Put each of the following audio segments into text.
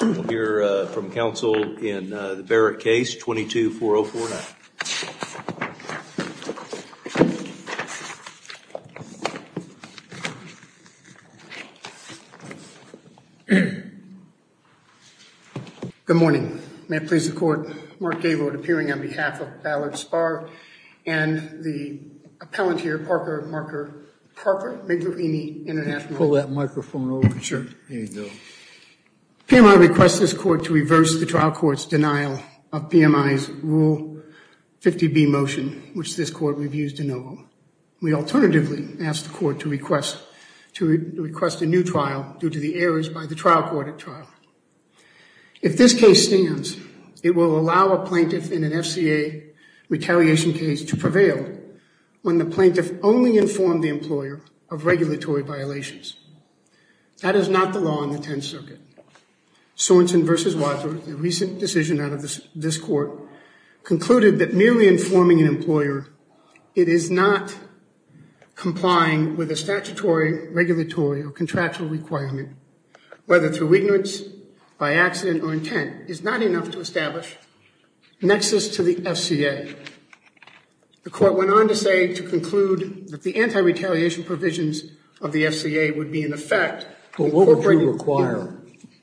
We'll hear from counsel in the Barrick case 22-4049. Good morning, may it please the court, Mark Gaylord appearing on behalf of Ballard Spar and the appellant here, Parker-Migliorini International. PMI requests this court to reverse the trial court's denial of PMI's Rule 50B motion, which this court reviews de novo. We alternatively ask the court to request a new trial due to the errors by the trial court at trial. If this case stands, it will allow a plaintiff in an FCA retaliation case to prevail when the plaintiff only informed the employer of regulatory violations. That is not the law in the Tenth Circuit. Sorenson v. Wadsworth, a recent decision out of this court, concluded that merely informing an employer it is not complying with a statutory, regulatory, or contractual requirement, whether through ignorance, by accident, or intent, is not enough to establish nexus to the FCA. The court went on to say, to conclude, that the anti-retaliation provisions of the FCA would be in effect. But what would you require?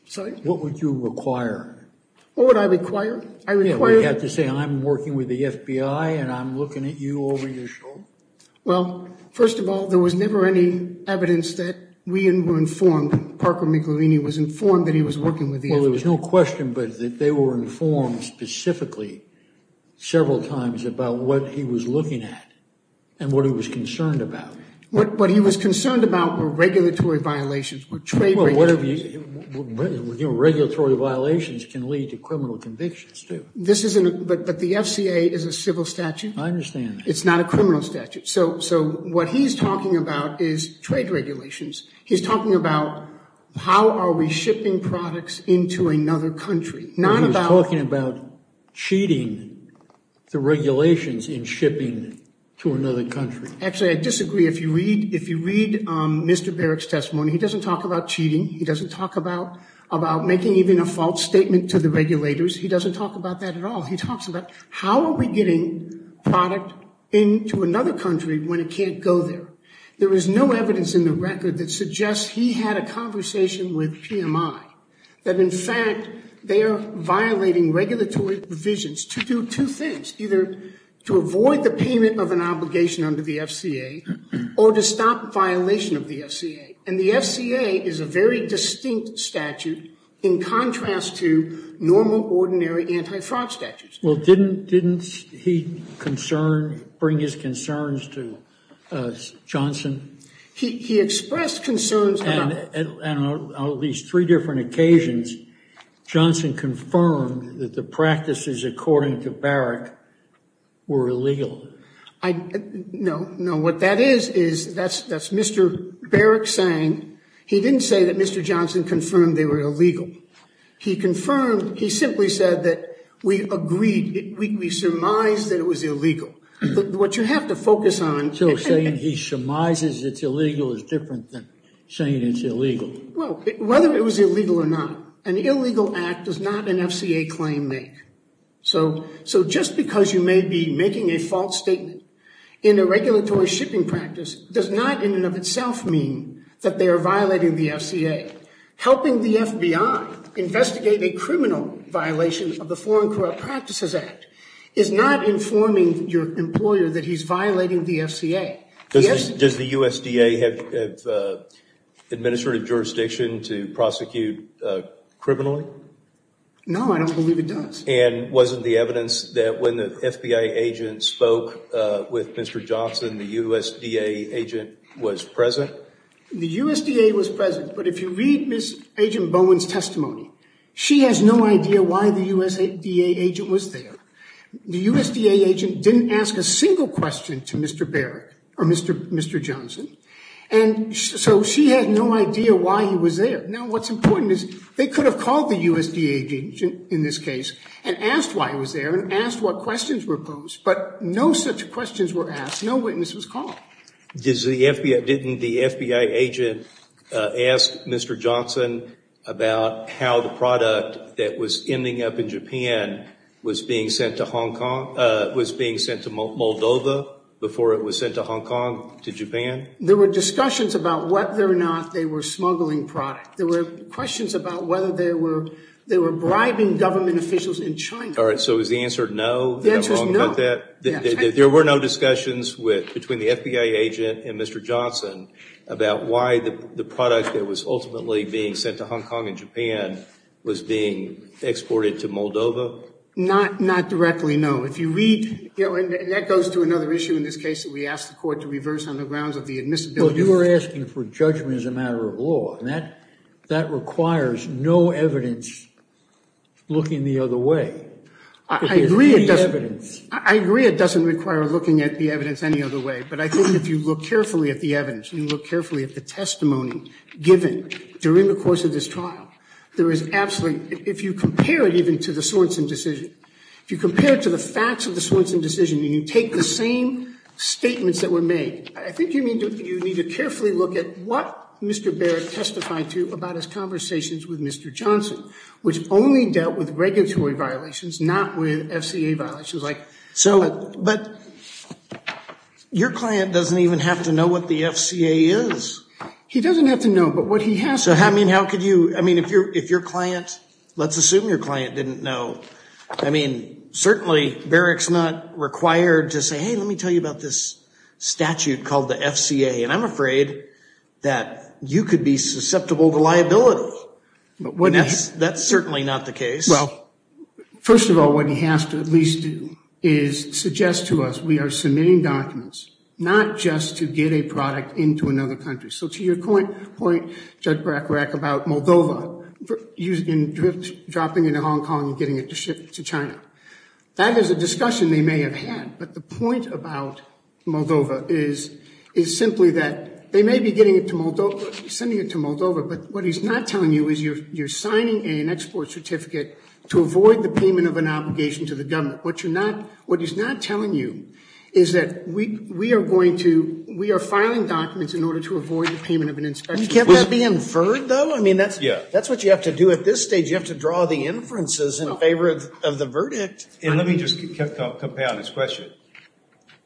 Sorry? What would you require? What would I require? I require... Yeah, would you have to say, I'm working with the FBI and I'm looking at you over your shoulder? Well, first of all, there was never any evidence that we were informed, Parker-Migliorini was informed that he was working with the FBI. So there was no question, but that they were informed specifically, several times, about what he was looking at and what he was concerned about. What he was concerned about were regulatory violations, were trade regulations. Regulatory violations can lead to criminal convictions, too. This isn't... But the FCA is a civil statute. I understand that. It's not a criminal statute. So what he's talking about is trade regulations. He's talking about, how are we shipping products into another country? Not about... He's talking about cheating the regulations in shipping to another country. Actually, I disagree. If you read Mr. Barrick's testimony, he doesn't talk about cheating. He doesn't talk about making even a false statement to the regulators. He doesn't talk about that at all. He talks about, how are we getting product into another country when it can't go there? There is no evidence in the record that suggests he had a conversation with PMI, that, in fact, they are violating regulatory provisions to do two things, either to avoid the payment of an obligation under the FCA or to stop violation of the FCA. And the FCA is a very distinct statute in contrast to normal, ordinary anti-fraud statutes. Well, didn't he concern, bring his concerns to Johnson? He expressed concerns about... And on at least three different occasions, Johnson confirmed that the practices according to Barrick were illegal. I... No, no. What that is, is that's Mr. Barrick saying... He didn't say that Mr. Johnson confirmed they were illegal. He confirmed... He simply said that we agreed, we surmised that it was illegal. What you have to focus on... So saying he surmises it's illegal is different than saying it's illegal. Well, whether it was illegal or not, an illegal act does not an FCA claim make. So just because you may be making a false statement in a regulatory shipping practice does not in and of itself mean that they are violating the FCA. Helping the FBI investigate a criminal violation of the Foreign Corrupt Practices Act is not informing your employer that he's violating the FCA. Does the USDA have administrative jurisdiction to prosecute criminally? No, I don't believe it does. And wasn't the evidence that when the FBI agent spoke with Mr. Johnson, the USDA agent was present? The USDA was present, but if you read Ms. Agent Bowen's testimony, she has no idea why the USDA agent was there. The USDA agent didn't ask a single question to Mr. Barrick, or Mr. Johnson, and so she had no idea why he was there. Now, what's important is they could have called the USDA agent in this case and asked why he was there and asked what questions were posed, but no such questions were asked. No witness was called. Didn't the FBI agent ask Mr. Johnson about how the product that was ending up in Japan was being sent to Hong Kong, was being sent to Moldova before it was sent to Hong Kong to Japan? There were discussions about whether or not they were smuggling product. There were questions about whether they were bribing government officials in China. So is the answer no? The answer is no. Is that wrong about that? There were no discussions between the FBI agent and Mr. Johnson about why the product that was ultimately being sent to Hong Kong and Japan was being exported to Moldova? Not directly, no. If you read, and that goes to another issue in this case that we asked the court to reverse on the grounds of the admissibility. Well, you were asking for judgment as a matter of law, and that requires no evidence looking the other way. I agree it doesn't require looking at the evidence any other way, but I think if you look carefully at the evidence and you look carefully at the testimony given during the course of this trial, there is absolutely, if you compare it even to the Swenson decision, if you compare it to the facts of the Swenson decision and you take the same statements that were made, I think you need to carefully look at what Mr. Barrick testified to about his conversations with Mr. Johnson, which only dealt with regulatory violations, not with FCA violations. So, but your client doesn't even have to know what the FCA is. He doesn't have to know, but what he has to know. So how could you, I mean, if your client, let's assume your client didn't know, I mean the FCA, and I'm afraid that you could be susceptible to liability, and that's certainly not the case. Well, first of all, what he has to at least do is suggest to us we are submitting documents not just to get a product into another country. So to your point, Judge Brackrack, about Moldova dropping into Hong Kong and getting it to ship to China. That is a discussion they may have had, but the point about Moldova is simply that they may be getting it to Moldova, sending it to Moldova, but what he's not telling you is you're signing an export certificate to avoid the payment of an obligation to the government. What you're not, what he's not telling you is that we are going to, we are filing documents in order to avoid the payment of an inspection. Can't that be inferred though? I mean, that's what you have to do at this stage. You have to draw the inferences in favor of the verdict. And let me just compound his question.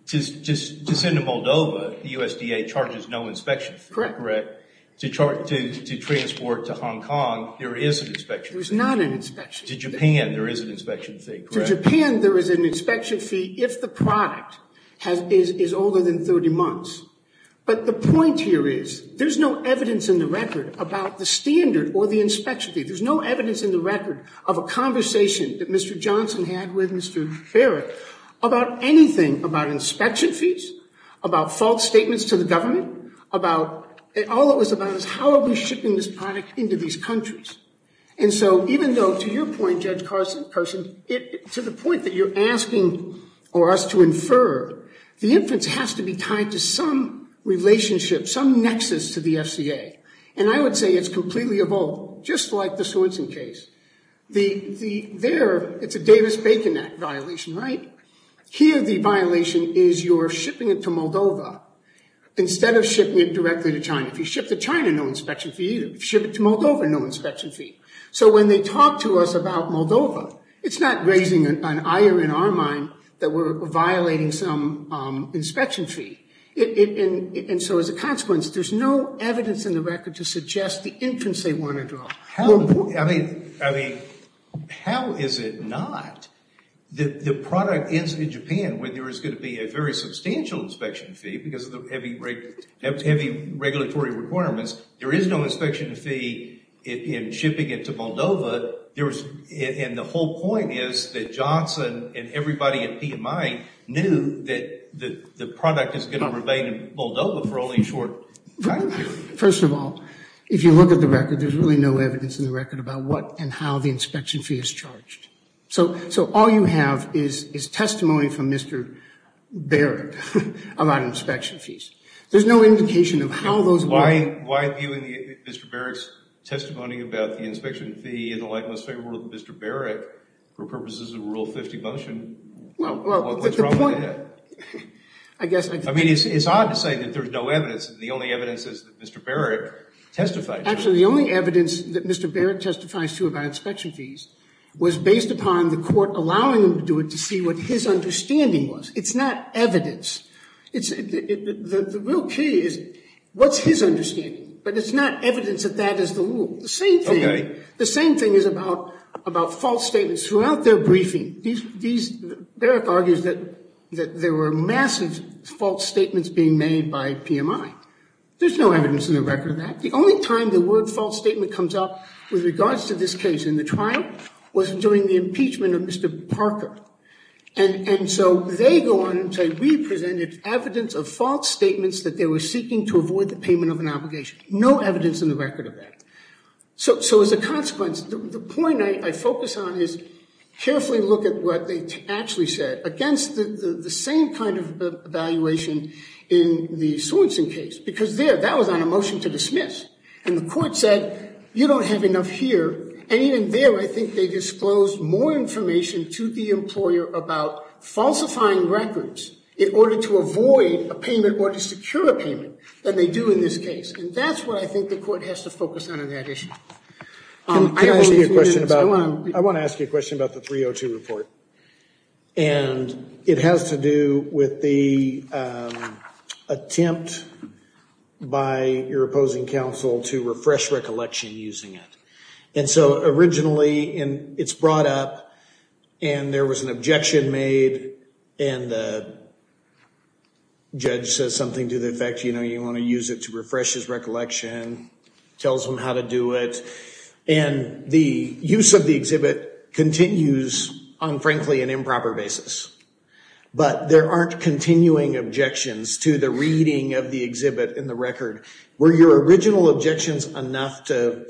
To send to Moldova, the USDA charges no inspection fee, correct? To transport to Hong Kong, there is an inspection fee. There's not an inspection fee. To Japan, there is an inspection fee, correct? To Japan, there is an inspection fee if the product is older than 30 months. But the point here is there's no evidence in the record about the standard or the inspection fee. There's no evidence in the record of a conversation that Mr. Johnson had with Mr. Farrick about anything about inspection fees, about false statements to the government, about, all it was about is how are we shipping this product into these countries? And so even though to your point, Judge Carson, to the point that you're asking for us to infer, the inference has to be tied to some relationship, some nexus to the FCA. And I would say it's completely evoked, just like the Swenson case. There, it's a Davis-Bacon Act violation, right? Here, the violation is you're shipping it to Moldova instead of shipping it directly to China. If you ship to China, no inspection fee. If you ship it to Moldova, no inspection fee. So when they talk to us about Moldova, it's not raising an ire in our mind that we're violating some inspection fee. And so as a consequence, there's no evidence in the record to suggest the inference they want to draw. How, I mean, how is it not? The product is in Japan where there is going to be a very substantial inspection fee because of the heavy regulatory requirements. There is no inspection fee in shipping it to Moldova, and the whole point is that Johnson and everybody at PMI knew that the product is going to remain in Moldova for only a short time. Right. First of all, if you look at the record, there's really no evidence in the record about what and how the inspection fee is charged. So all you have is testimony from Mr. Barrett about inspection fees. There's no indication of how those work. Why viewing Mr. Barrett's testimony about the inspection fee in the light most favorable to Mr. Barrett for purposes of Rule 50 motion, what's wrong with that? I mean, it's odd to say that there's no evidence, and the only evidence is that Mr. Barrett testified. Actually, the only evidence that Mr. Barrett testifies to about inspection fees was based upon the court allowing him to do it to see what his understanding was. It's not evidence. The real key is what's his understanding, but it's not evidence that that is the rule. The same thing is about false statements. Throughout their briefing, Barrett argues that there were massive false statements being made by PMI. There's no evidence in the record of that. The only time the word false statement comes up with regards to this case in the trial was during the impeachment of Mr. Parker. And so they go on and say, we presented evidence of false statements that they were seeking to avoid the payment of an obligation. No evidence in the record of that. So as a consequence, the point I focus on is carefully look at what they actually said against the same kind of evaluation in the Sorensen case. Because there, that was on a motion to dismiss, and the court said, you don't have enough here. And even there, I think they disclosed more information to the employer about falsifying records in order to avoid a payment or to secure a payment than they do in this case. And that's what I think the court has to focus on in that issue. I want to ask you a question about the 302 report. And it has to do with the attempt by your opposing counsel to refresh recollection using it. And so originally, it's brought up, and there was an objection made, and the judge says something to the effect, you know, you want to use it to refresh his recollection, tells him how to do it. And the use of the exhibit continues on, frankly, an improper basis. But there aren't continuing objections to the reading of the exhibit in the record. Were your original objections enough to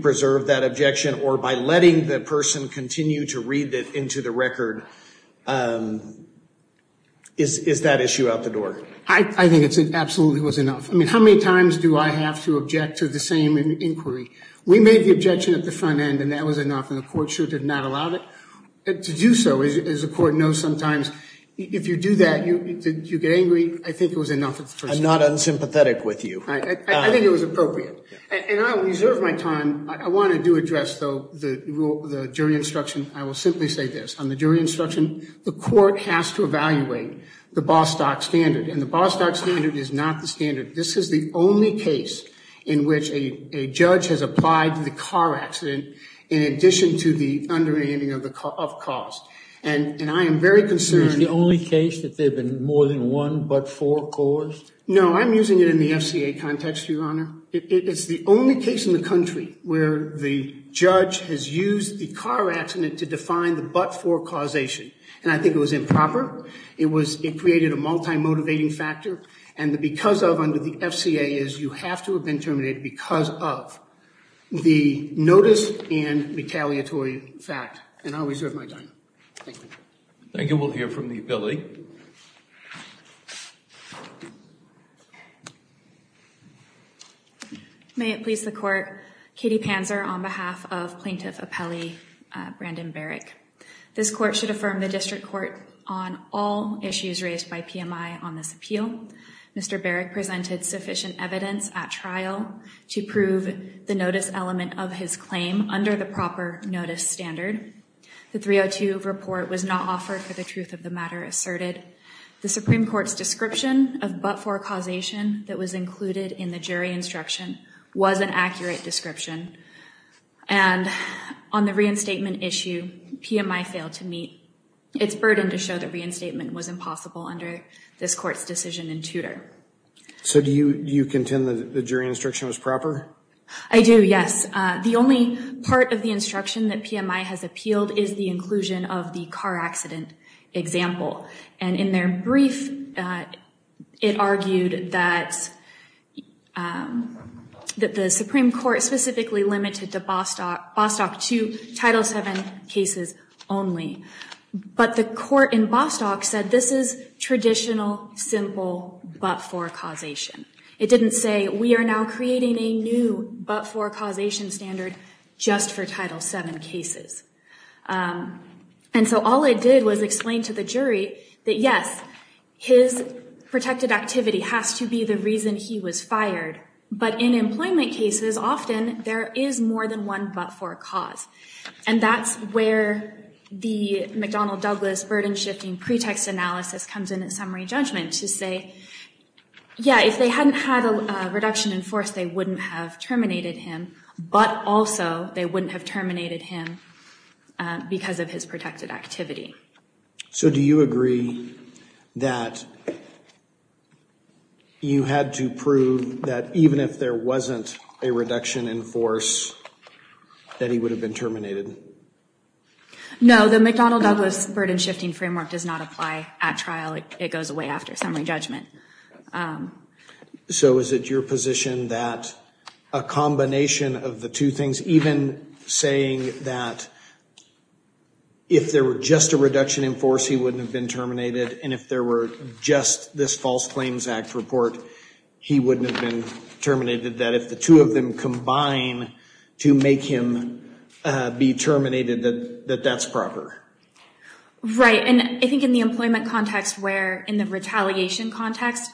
preserve that objection, or by letting the person continue to read it into the record, is that issue out the door? I think it absolutely was enough. I mean, how many times do I have to object to the same inquiry? We made the objection at the front end, and that was enough, and the court sure did not allow it. To do so, as the court knows sometimes, if you do that, you get angry, I think it was enough at first. I'm not unsympathetic with you. I think it was appropriate. And I'll reserve my time. I want to do address, though, the jury instruction. I will simply say this. On the jury instruction, the court has to evaluate the Bostock standard, and the Bostock standard is not the standard. This is the only case in which a judge has applied to the car accident in addition to the underhanding of cost. And I am very concerned. Is it the only case that there have been more than one but-for cause? No, I'm using it in the FCA context, Your Honor. It's the only case in the country where the judge has used the car accident to define the but-for causation, and I think it was improper. It created a multi-motivating factor, and the because of under the FCA is you have to have been terminated because of the notice and retaliatory fact, and I'll reserve my time. Thank you. Thank you. We'll hear from the ability. Thank you. Thank you. Thank you. May it please the court, Katie Panzer on behalf of Plaintiff Apelli, Brandon Beric. This court should affirm the District Court on all issues raised by PMI on this appeal. Mr. Beric presented sufficient evidence at trial to prove the notice element of his claim under the proper notice standard. The 302 report was not offered for the truth of the matter asserted. The Supreme Court's description of but-for causation that was included in the jury instruction was an accurate description, and on the reinstatement issue, PMI failed to meet its burden to show that reinstatement was impossible under this court's decision in Tudor. So do you contend that the jury instruction was proper? I do, yes. The only part of the instruction that PMI has appealed is the inclusion of the car accident example, and in their brief, it argued that the Supreme Court specifically limited Bostock to Title VII cases only. But the court in Bostock said this is traditional, simple, but-for causation. It didn't say, we are now creating a new but-for causation standard just for Title VII cases. And so all it did was explain to the jury that yes, his protected activity has to be the reason he was fired, but in employment cases, often there is more than one but-for cause, and that's where the McDonnell-Douglas burden-shifting pretext analysis comes in the summary judgment to say, yeah, if they hadn't had a reduction in force, they wouldn't have terminated him, but also they wouldn't have terminated him because of his protected activity. So do you agree that you had to prove that even if there wasn't a reduction in force that he would have been terminated? No, the McDonnell-Douglas burden-shifting framework does not apply at trial. It goes away after summary judgment. So is it your position that a combination of the two things, even saying that if there were just a reduction in force, he wouldn't have been terminated, and if there were just this False Claims Act report, he wouldn't have been terminated, that if the two of them combine to make him be terminated, that that's proper? Right, and I think in the employment context where, in the retaliation context,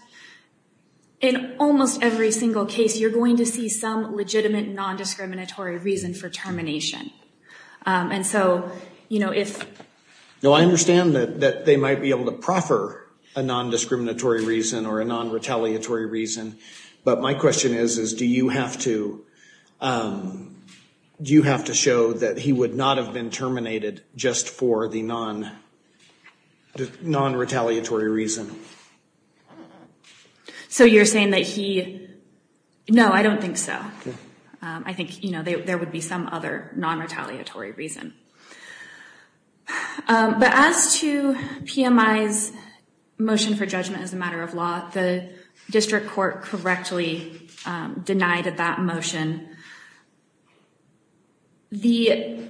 in almost every single case, you're going to see some legitimate non-discriminatory reason for termination. And so, you know, if- No, I understand that they might be able to proffer a non-discriminatory reason or a non-retaliatory reason, but my question is, is do you have to show that he would not have been terminated just for the non-retaliatory reason? So you're saying that he- No, I don't think so. I think, you know, there would be some other non-retaliatory reason, but as to PMI's motion for judgment as a matter of law, the district court correctly denied that motion. The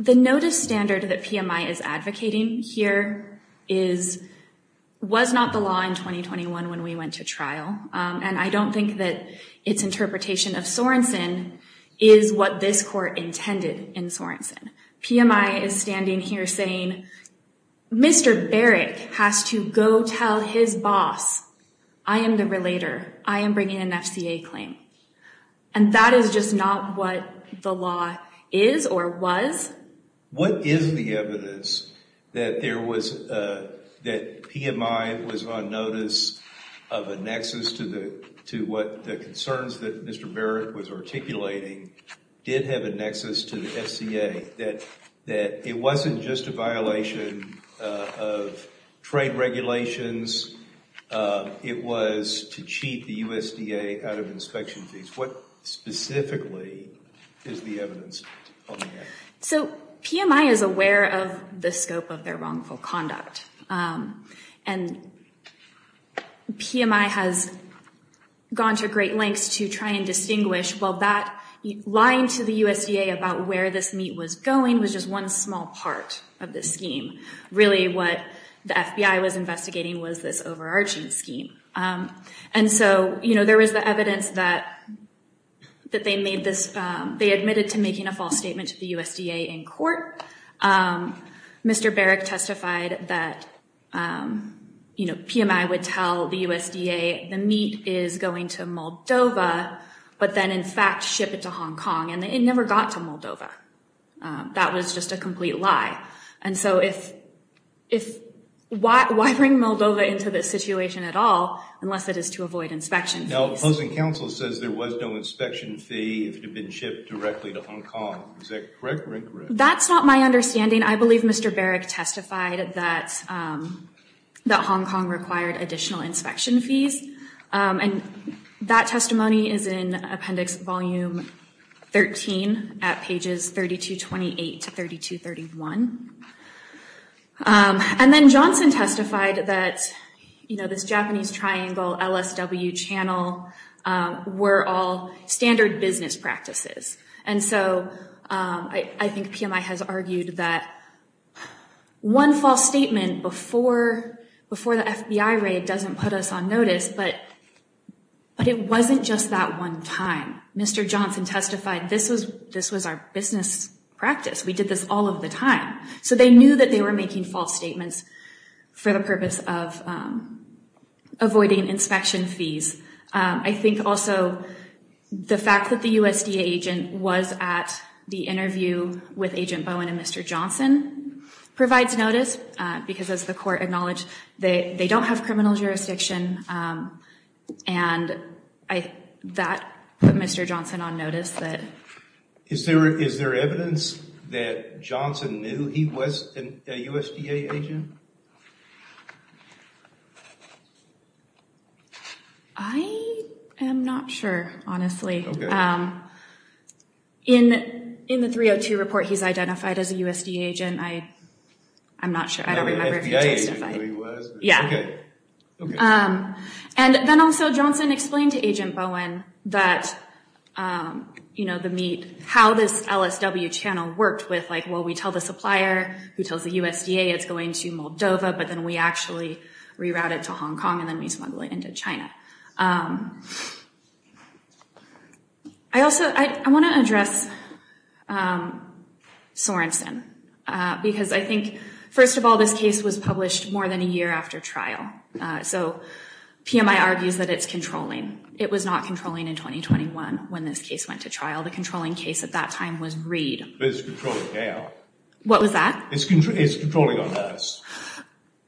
notice standard that PMI is advocating here was not the law in 2021 when we went to trial, and I don't think that its interpretation of Sorensen is what this court intended in Sorensen. PMI is standing here saying, Mr. Barrett has to go tell his boss, I am the relator, I am bringing an FCA claim. And that is just not what the law is or was. What is the evidence that there was- that PMI was on notice of a nexus to what the concerns that Mr. Barrett was articulating did have a nexus to the FCA, that it wasn't just a violation of trade regulations, it was to cheat the USDA out of inspection fees. What specifically is the evidence on that? So PMI is aware of the scope of their wrongful conduct, and PMI has gone to great lengths to try and distinguish, well, that lying to the USDA about where this meat was going was just one small part of this scheme. Really what the FBI was investigating was this overarching scheme. And so, you know, there was the evidence that they made this- they admitted to making a false statement to the USDA in court. Mr. Barrett testified that, you know, PMI would tell the USDA the meat is going to Moldova, but then in fact ship it to Hong Kong, and it never got to Moldova. That was just a complete lie. And so if- why bring Moldova into this situation at all, unless it is to avoid inspection fees? Now, opposing counsel says there was no inspection fee if it had been shipped directly to Hong Kong. Is that correct or incorrect? That's not my understanding. I believe Mr. Barrett testified that Hong Kong required additional inspection fees. And that testimony is in Appendix Volume 13 at pages 3228 to 3231. And then Johnson testified that, you know, this Japanese triangle LSW channel were all standard business practices. And so I think PMI has argued that one false statement before the FBI raid doesn't put us on notice. But it wasn't just that one time. Mr. Johnson testified this was our business practice. We did this all of the time. So they knew that they were making false statements for the purpose of avoiding inspection fees. I think also the fact that the USDA agent was at the interview with Agent Bowen and Mr. Johnson provides notice. Because as the court acknowledged, they don't have criminal jurisdiction. And I- that put Mr. Johnson on notice that- Is there- is there evidence that Johnson knew he was a USDA agent? I am not sure, honestly. In the 302 report, he's identified as a USDA agent. I- I'm not sure. I don't remember if he testified. Yeah. And then also Johnson explained to Agent Bowen that, you know, the meat- how this LSW channel worked with, like, well, we tell the supplier who tells the USDA it's going to Moldova. But then we actually reroute it to Hong Kong and then we smuggle it into China. I also- I want to address Sorenson. Because I think, first of all, this case was published more than a year after trial. So PMI argues that it's controlling. It was not controlling in 2021 when this case went to trial. The controlling case at that time was Reid. But it's controlling now. What was that? It's controlling on notice,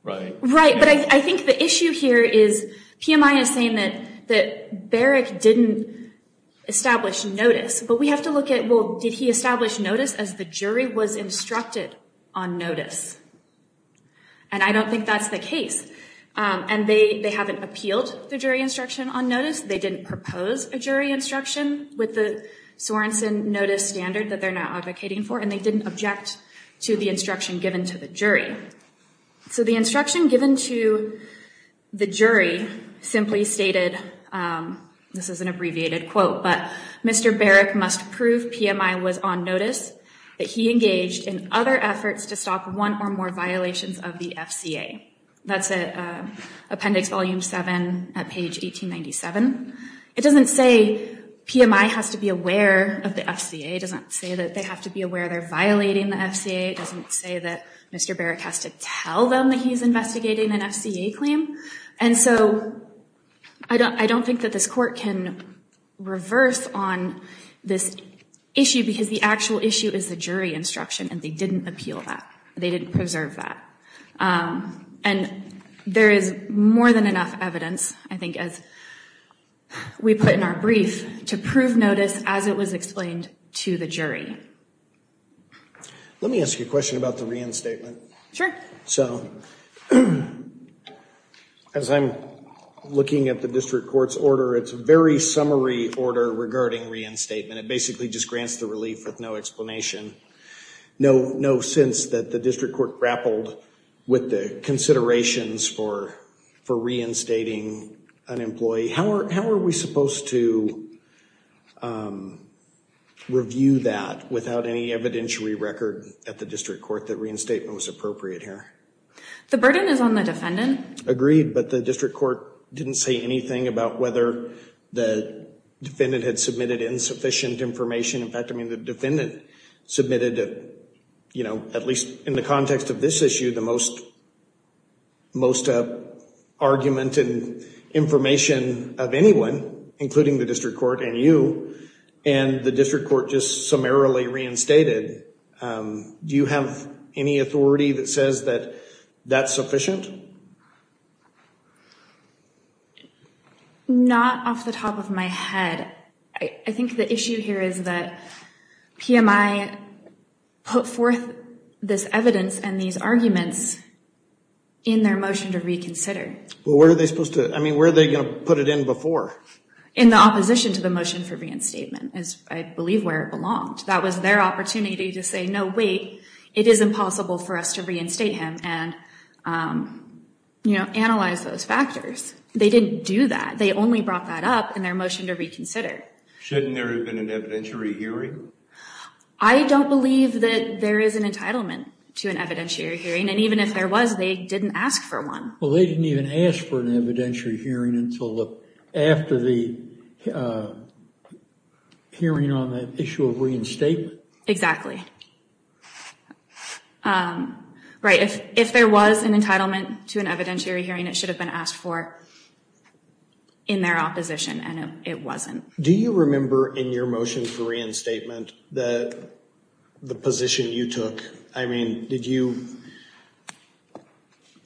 right? Right. But I think the issue here is PMI is saying that Barak didn't establish notice. But we have to look at, well, did he establish notice as the jury was instructed on notice? And I don't think that's the case. And they haven't appealed the jury instruction on notice. They didn't propose a jury instruction with the Sorenson notice standard that they're now advocating for. And they didn't object to the instruction given to the jury. So the instruction given to the jury simply stated, this is an abbreviated quote, but Mr. Barak must prove PMI was on notice that he engaged in other efforts to stop one or more violations of the FCA. That's at Appendix Volume 7 at page 1897. It doesn't say PMI has to be aware of the FCA. It doesn't say that they have to be aware they're violating the FCA. It doesn't say that Mr. Barak has to tell them that he's investigating an FCA claim. And so I don't think that this court can reverse on this issue, because the actual issue is the jury instruction. And they didn't appeal that. They didn't preserve that. And there is more than enough evidence, I think, as we put in our brief, to prove notice as it was explained to the jury. Let me ask you a question about the reinstatement. Sure. So, as I'm looking at the district court's order, it's a very summary order regarding reinstatement. It basically just grants the relief with no explanation. No sense that the district court grappled with the considerations for reinstating an employee. How are we supposed to review that without any evidentiary record at the district court that reinstatement was appropriate here? The burden is on the defendant. Agreed, but the district court didn't say anything about whether the defendant had submitted insufficient information. In fact, I mean, the defendant submitted, at least in the context of this issue, the most argument and information of anyone, including the district court and you, and the district court just summarily reinstated. Do you have any authority that says that that's sufficient? I think the issue here is that PMI put forth this evidence and these arguments in their motion to reconsider. Well, where are they supposed to, I mean, where are they going to put it in before? In the opposition to the motion for reinstatement is, I believe, where it belonged. That was their opportunity to say, no, wait, it is impossible for us to reinstate him and, you know, analyze those factors. They didn't do that. They only brought that up in their motion to reconsider. Shouldn't there have been an evidentiary hearing? I don't believe that there is an entitlement to an evidentiary hearing. And even if there was, they didn't ask for one. Well, they didn't even ask for an evidentiary hearing until after the hearing on the issue of reinstatement. Exactly. Right, if there was an entitlement to an evidentiary hearing, it should have been asked for in their opposition, and it wasn't. Do you remember, in your motion for reinstatement, the position you took? I mean, did you,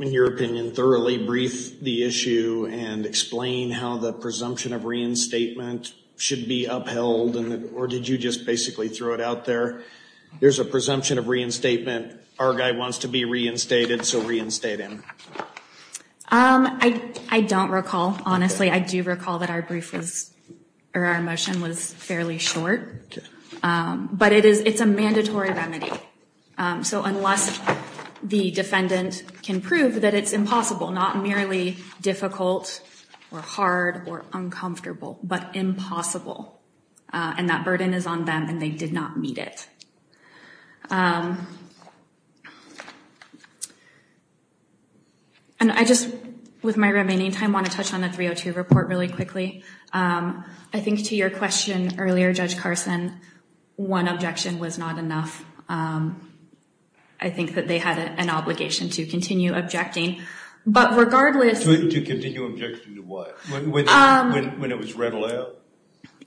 in your opinion, thoroughly brief the issue and explain how the presumption of reinstatement should be upheld? Or did you just basically throw it out there? There's a presumption of reinstatement. Our guy wants to be reinstated, so reinstate him. I don't recall. Honestly, I do recall that our brief was, or our motion was fairly short. But it is, it's a mandatory remedy. So unless the defendant can prove that it's impossible, not merely difficult or hard or uncomfortable, but impossible. And that burden is on them, and they did not meet it. And I just, with my remaining time, want to touch on the 302 report really quickly. I think to your question earlier, Judge Carson, one objection was not enough. I think that they had an obligation to continue objecting. But regardless... To continue objecting to what? When it was read aloud?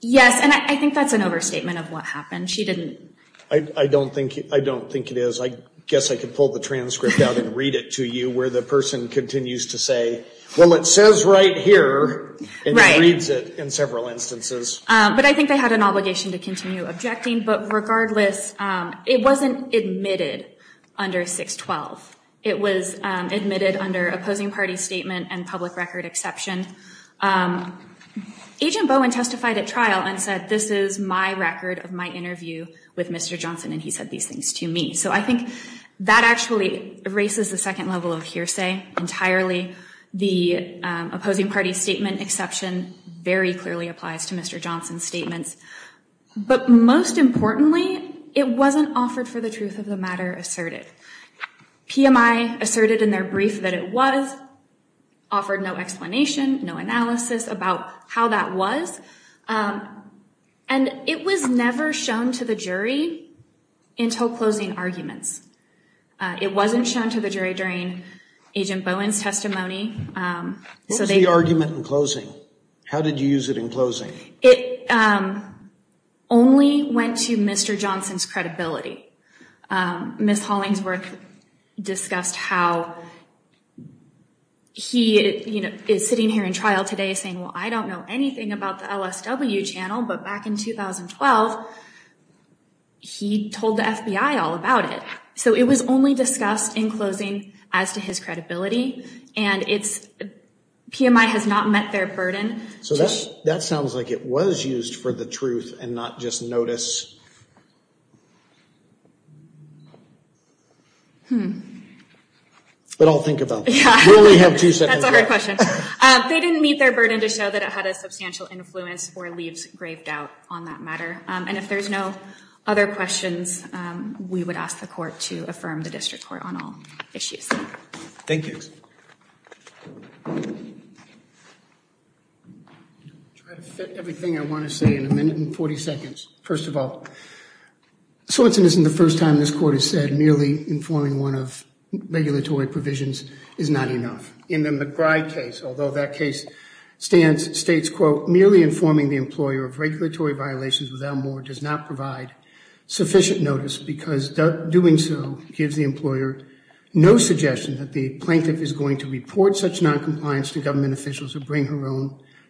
Yes, and I think that's an overstatement of what happened. She didn't... I don't think, I don't think it is. I guess I could pull the transcript out and read it to you where the person continues to say, well, it says right here and reads it in several instances. But I think they had an obligation to continue objecting. But regardless, it wasn't admitted under 612. It was admitted under opposing party statement and public record exception. Agent Bowen testified at trial and said, this is my record of my interview with Mr. Johnson, and he said these things to me. So I think that actually erases the second level of hearsay entirely. The opposing party statement exception very clearly applies to Mr. Johnson's statements. But most importantly, it wasn't offered for the truth of the matter asserted. PMI asserted in their brief that it was, offered no explanation. No analysis about how that was. And it was never shown to the jury until closing arguments. It wasn't shown to the jury during Agent Bowen's testimony. What was the argument in closing? How did you use it in closing? It only went to Mr. Johnson's credibility. Ms. Hollingsworth discussed how he is sitting here in trial today saying, well, I don't know anything about the LSW channel. But back in 2012, he told the FBI all about it. So it was only discussed in closing as to his credibility. And PMI has not met their burden. So that sounds like it was used for the truth and not just notice. But I'll think about it. We only have two seconds left. That's a hard question. They didn't meet their burden to show that it had a substantial influence or leaves grave doubt on that matter. And if there's no other questions, we would ask the court to affirm the district court on all issues. Thank you. I'll try to fit everything I want to say in a minute and 40 seconds. First of all, Sorensen isn't the first time this court has said merely informing one of regulatory provisions is not enough. In the McBride case, although that case stands, states, quote, merely informing the employer of regulatory violations without more does not provide sufficient notice because doing so gives the employer no suggestion that the plaintiff is going to report such noncompliance to government officials or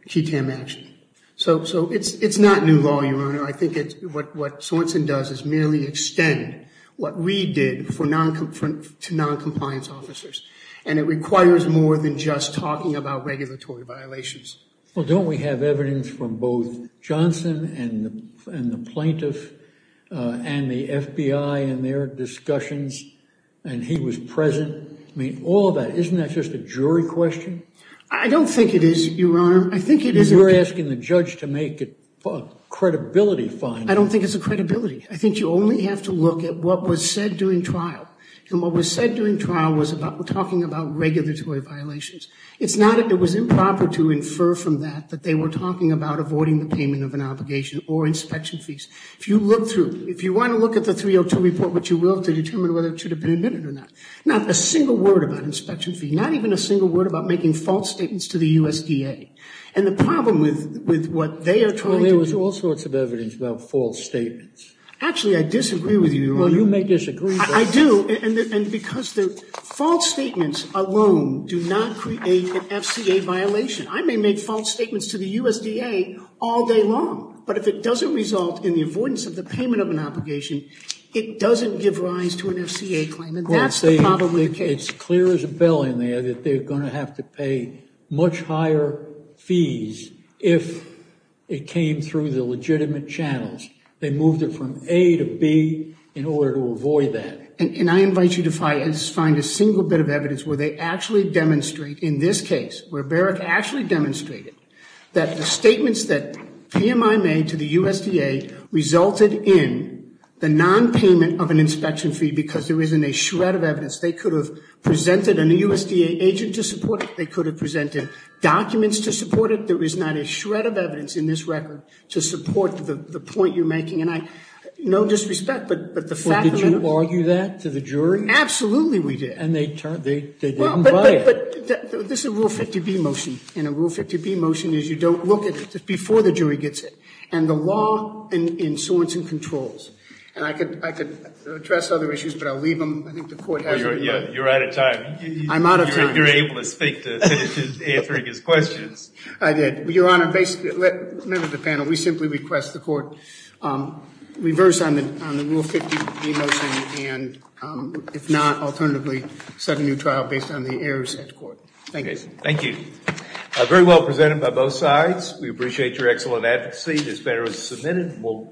key time action. So it's not new law, Your Honor. I think what Sorensen does is merely extend what we did to noncompliance officers. And it requires more than just talking about regulatory violations. Well, don't we have evidence from both Johnson and the plaintiff and the FBI and their discussions, and he was present? I mean, all of that, isn't that just a jury question? I don't think it is, Your Honor. You're asking the judge to make it a credibility finding. I don't think it's a credibility. I think you only have to look at what was said during trial. And what was said during trial was about talking about regulatory violations. It's not that it was improper to infer from that that they were talking about avoiding the payment of an obligation or inspection fees. If you want to look at the 302 report, which you will, to determine whether it should have been admitted or not. Not a single word about inspection fee, not even a single word about making false statements to the USDA. And the problem with what they are trying to- Well, there was all sorts of evidence about false statements. Actually, I disagree with you, Your Honor. Well, you may disagree, but- I do, and because the false statements alone do not create an FCA violation. I may make false statements to the USDA all day long. But if it doesn't result in the avoidance of the payment of an obligation, it doesn't give rise to an FCA claim, and that's the problem with the case. It's clear as a bell in there that they're going to have to pay much higher fees if it came through the legitimate channels. They moved it from A to B in order to avoid that. And I invite you to find a single bit of evidence where they actually demonstrate, in this case, where Barrick actually demonstrated that the statements that PMI made to the USDA resulted in the non-payment of an inspection fee because there isn't a shred of evidence. They could have presented an USDA agent to support it. They could have presented documents to support it. There is not a shred of evidence in this record to support the point you're making. And I, no disrespect, but the fact that- Did you argue that to the jury? Absolutely, we did. And they didn't buy it. But this is a Rule 50B motion, and a Rule 50B motion is you don't look at it before the jury gets it. And the law in sorts and controls. And I could address other issues, but I'll leave them. I think the court has- You're out of time. I'm out of time. You're able to speak to answering his questions. I did. Your Honor, basically, members of the panel, we simply request the court reverse on the Rule 50B motion, and if not, alternatively, set a new trial based on the errors at court. Thank you. Thank you. Very well presented by both sides. We appreciate your excellent advocacy. This matter is submitted.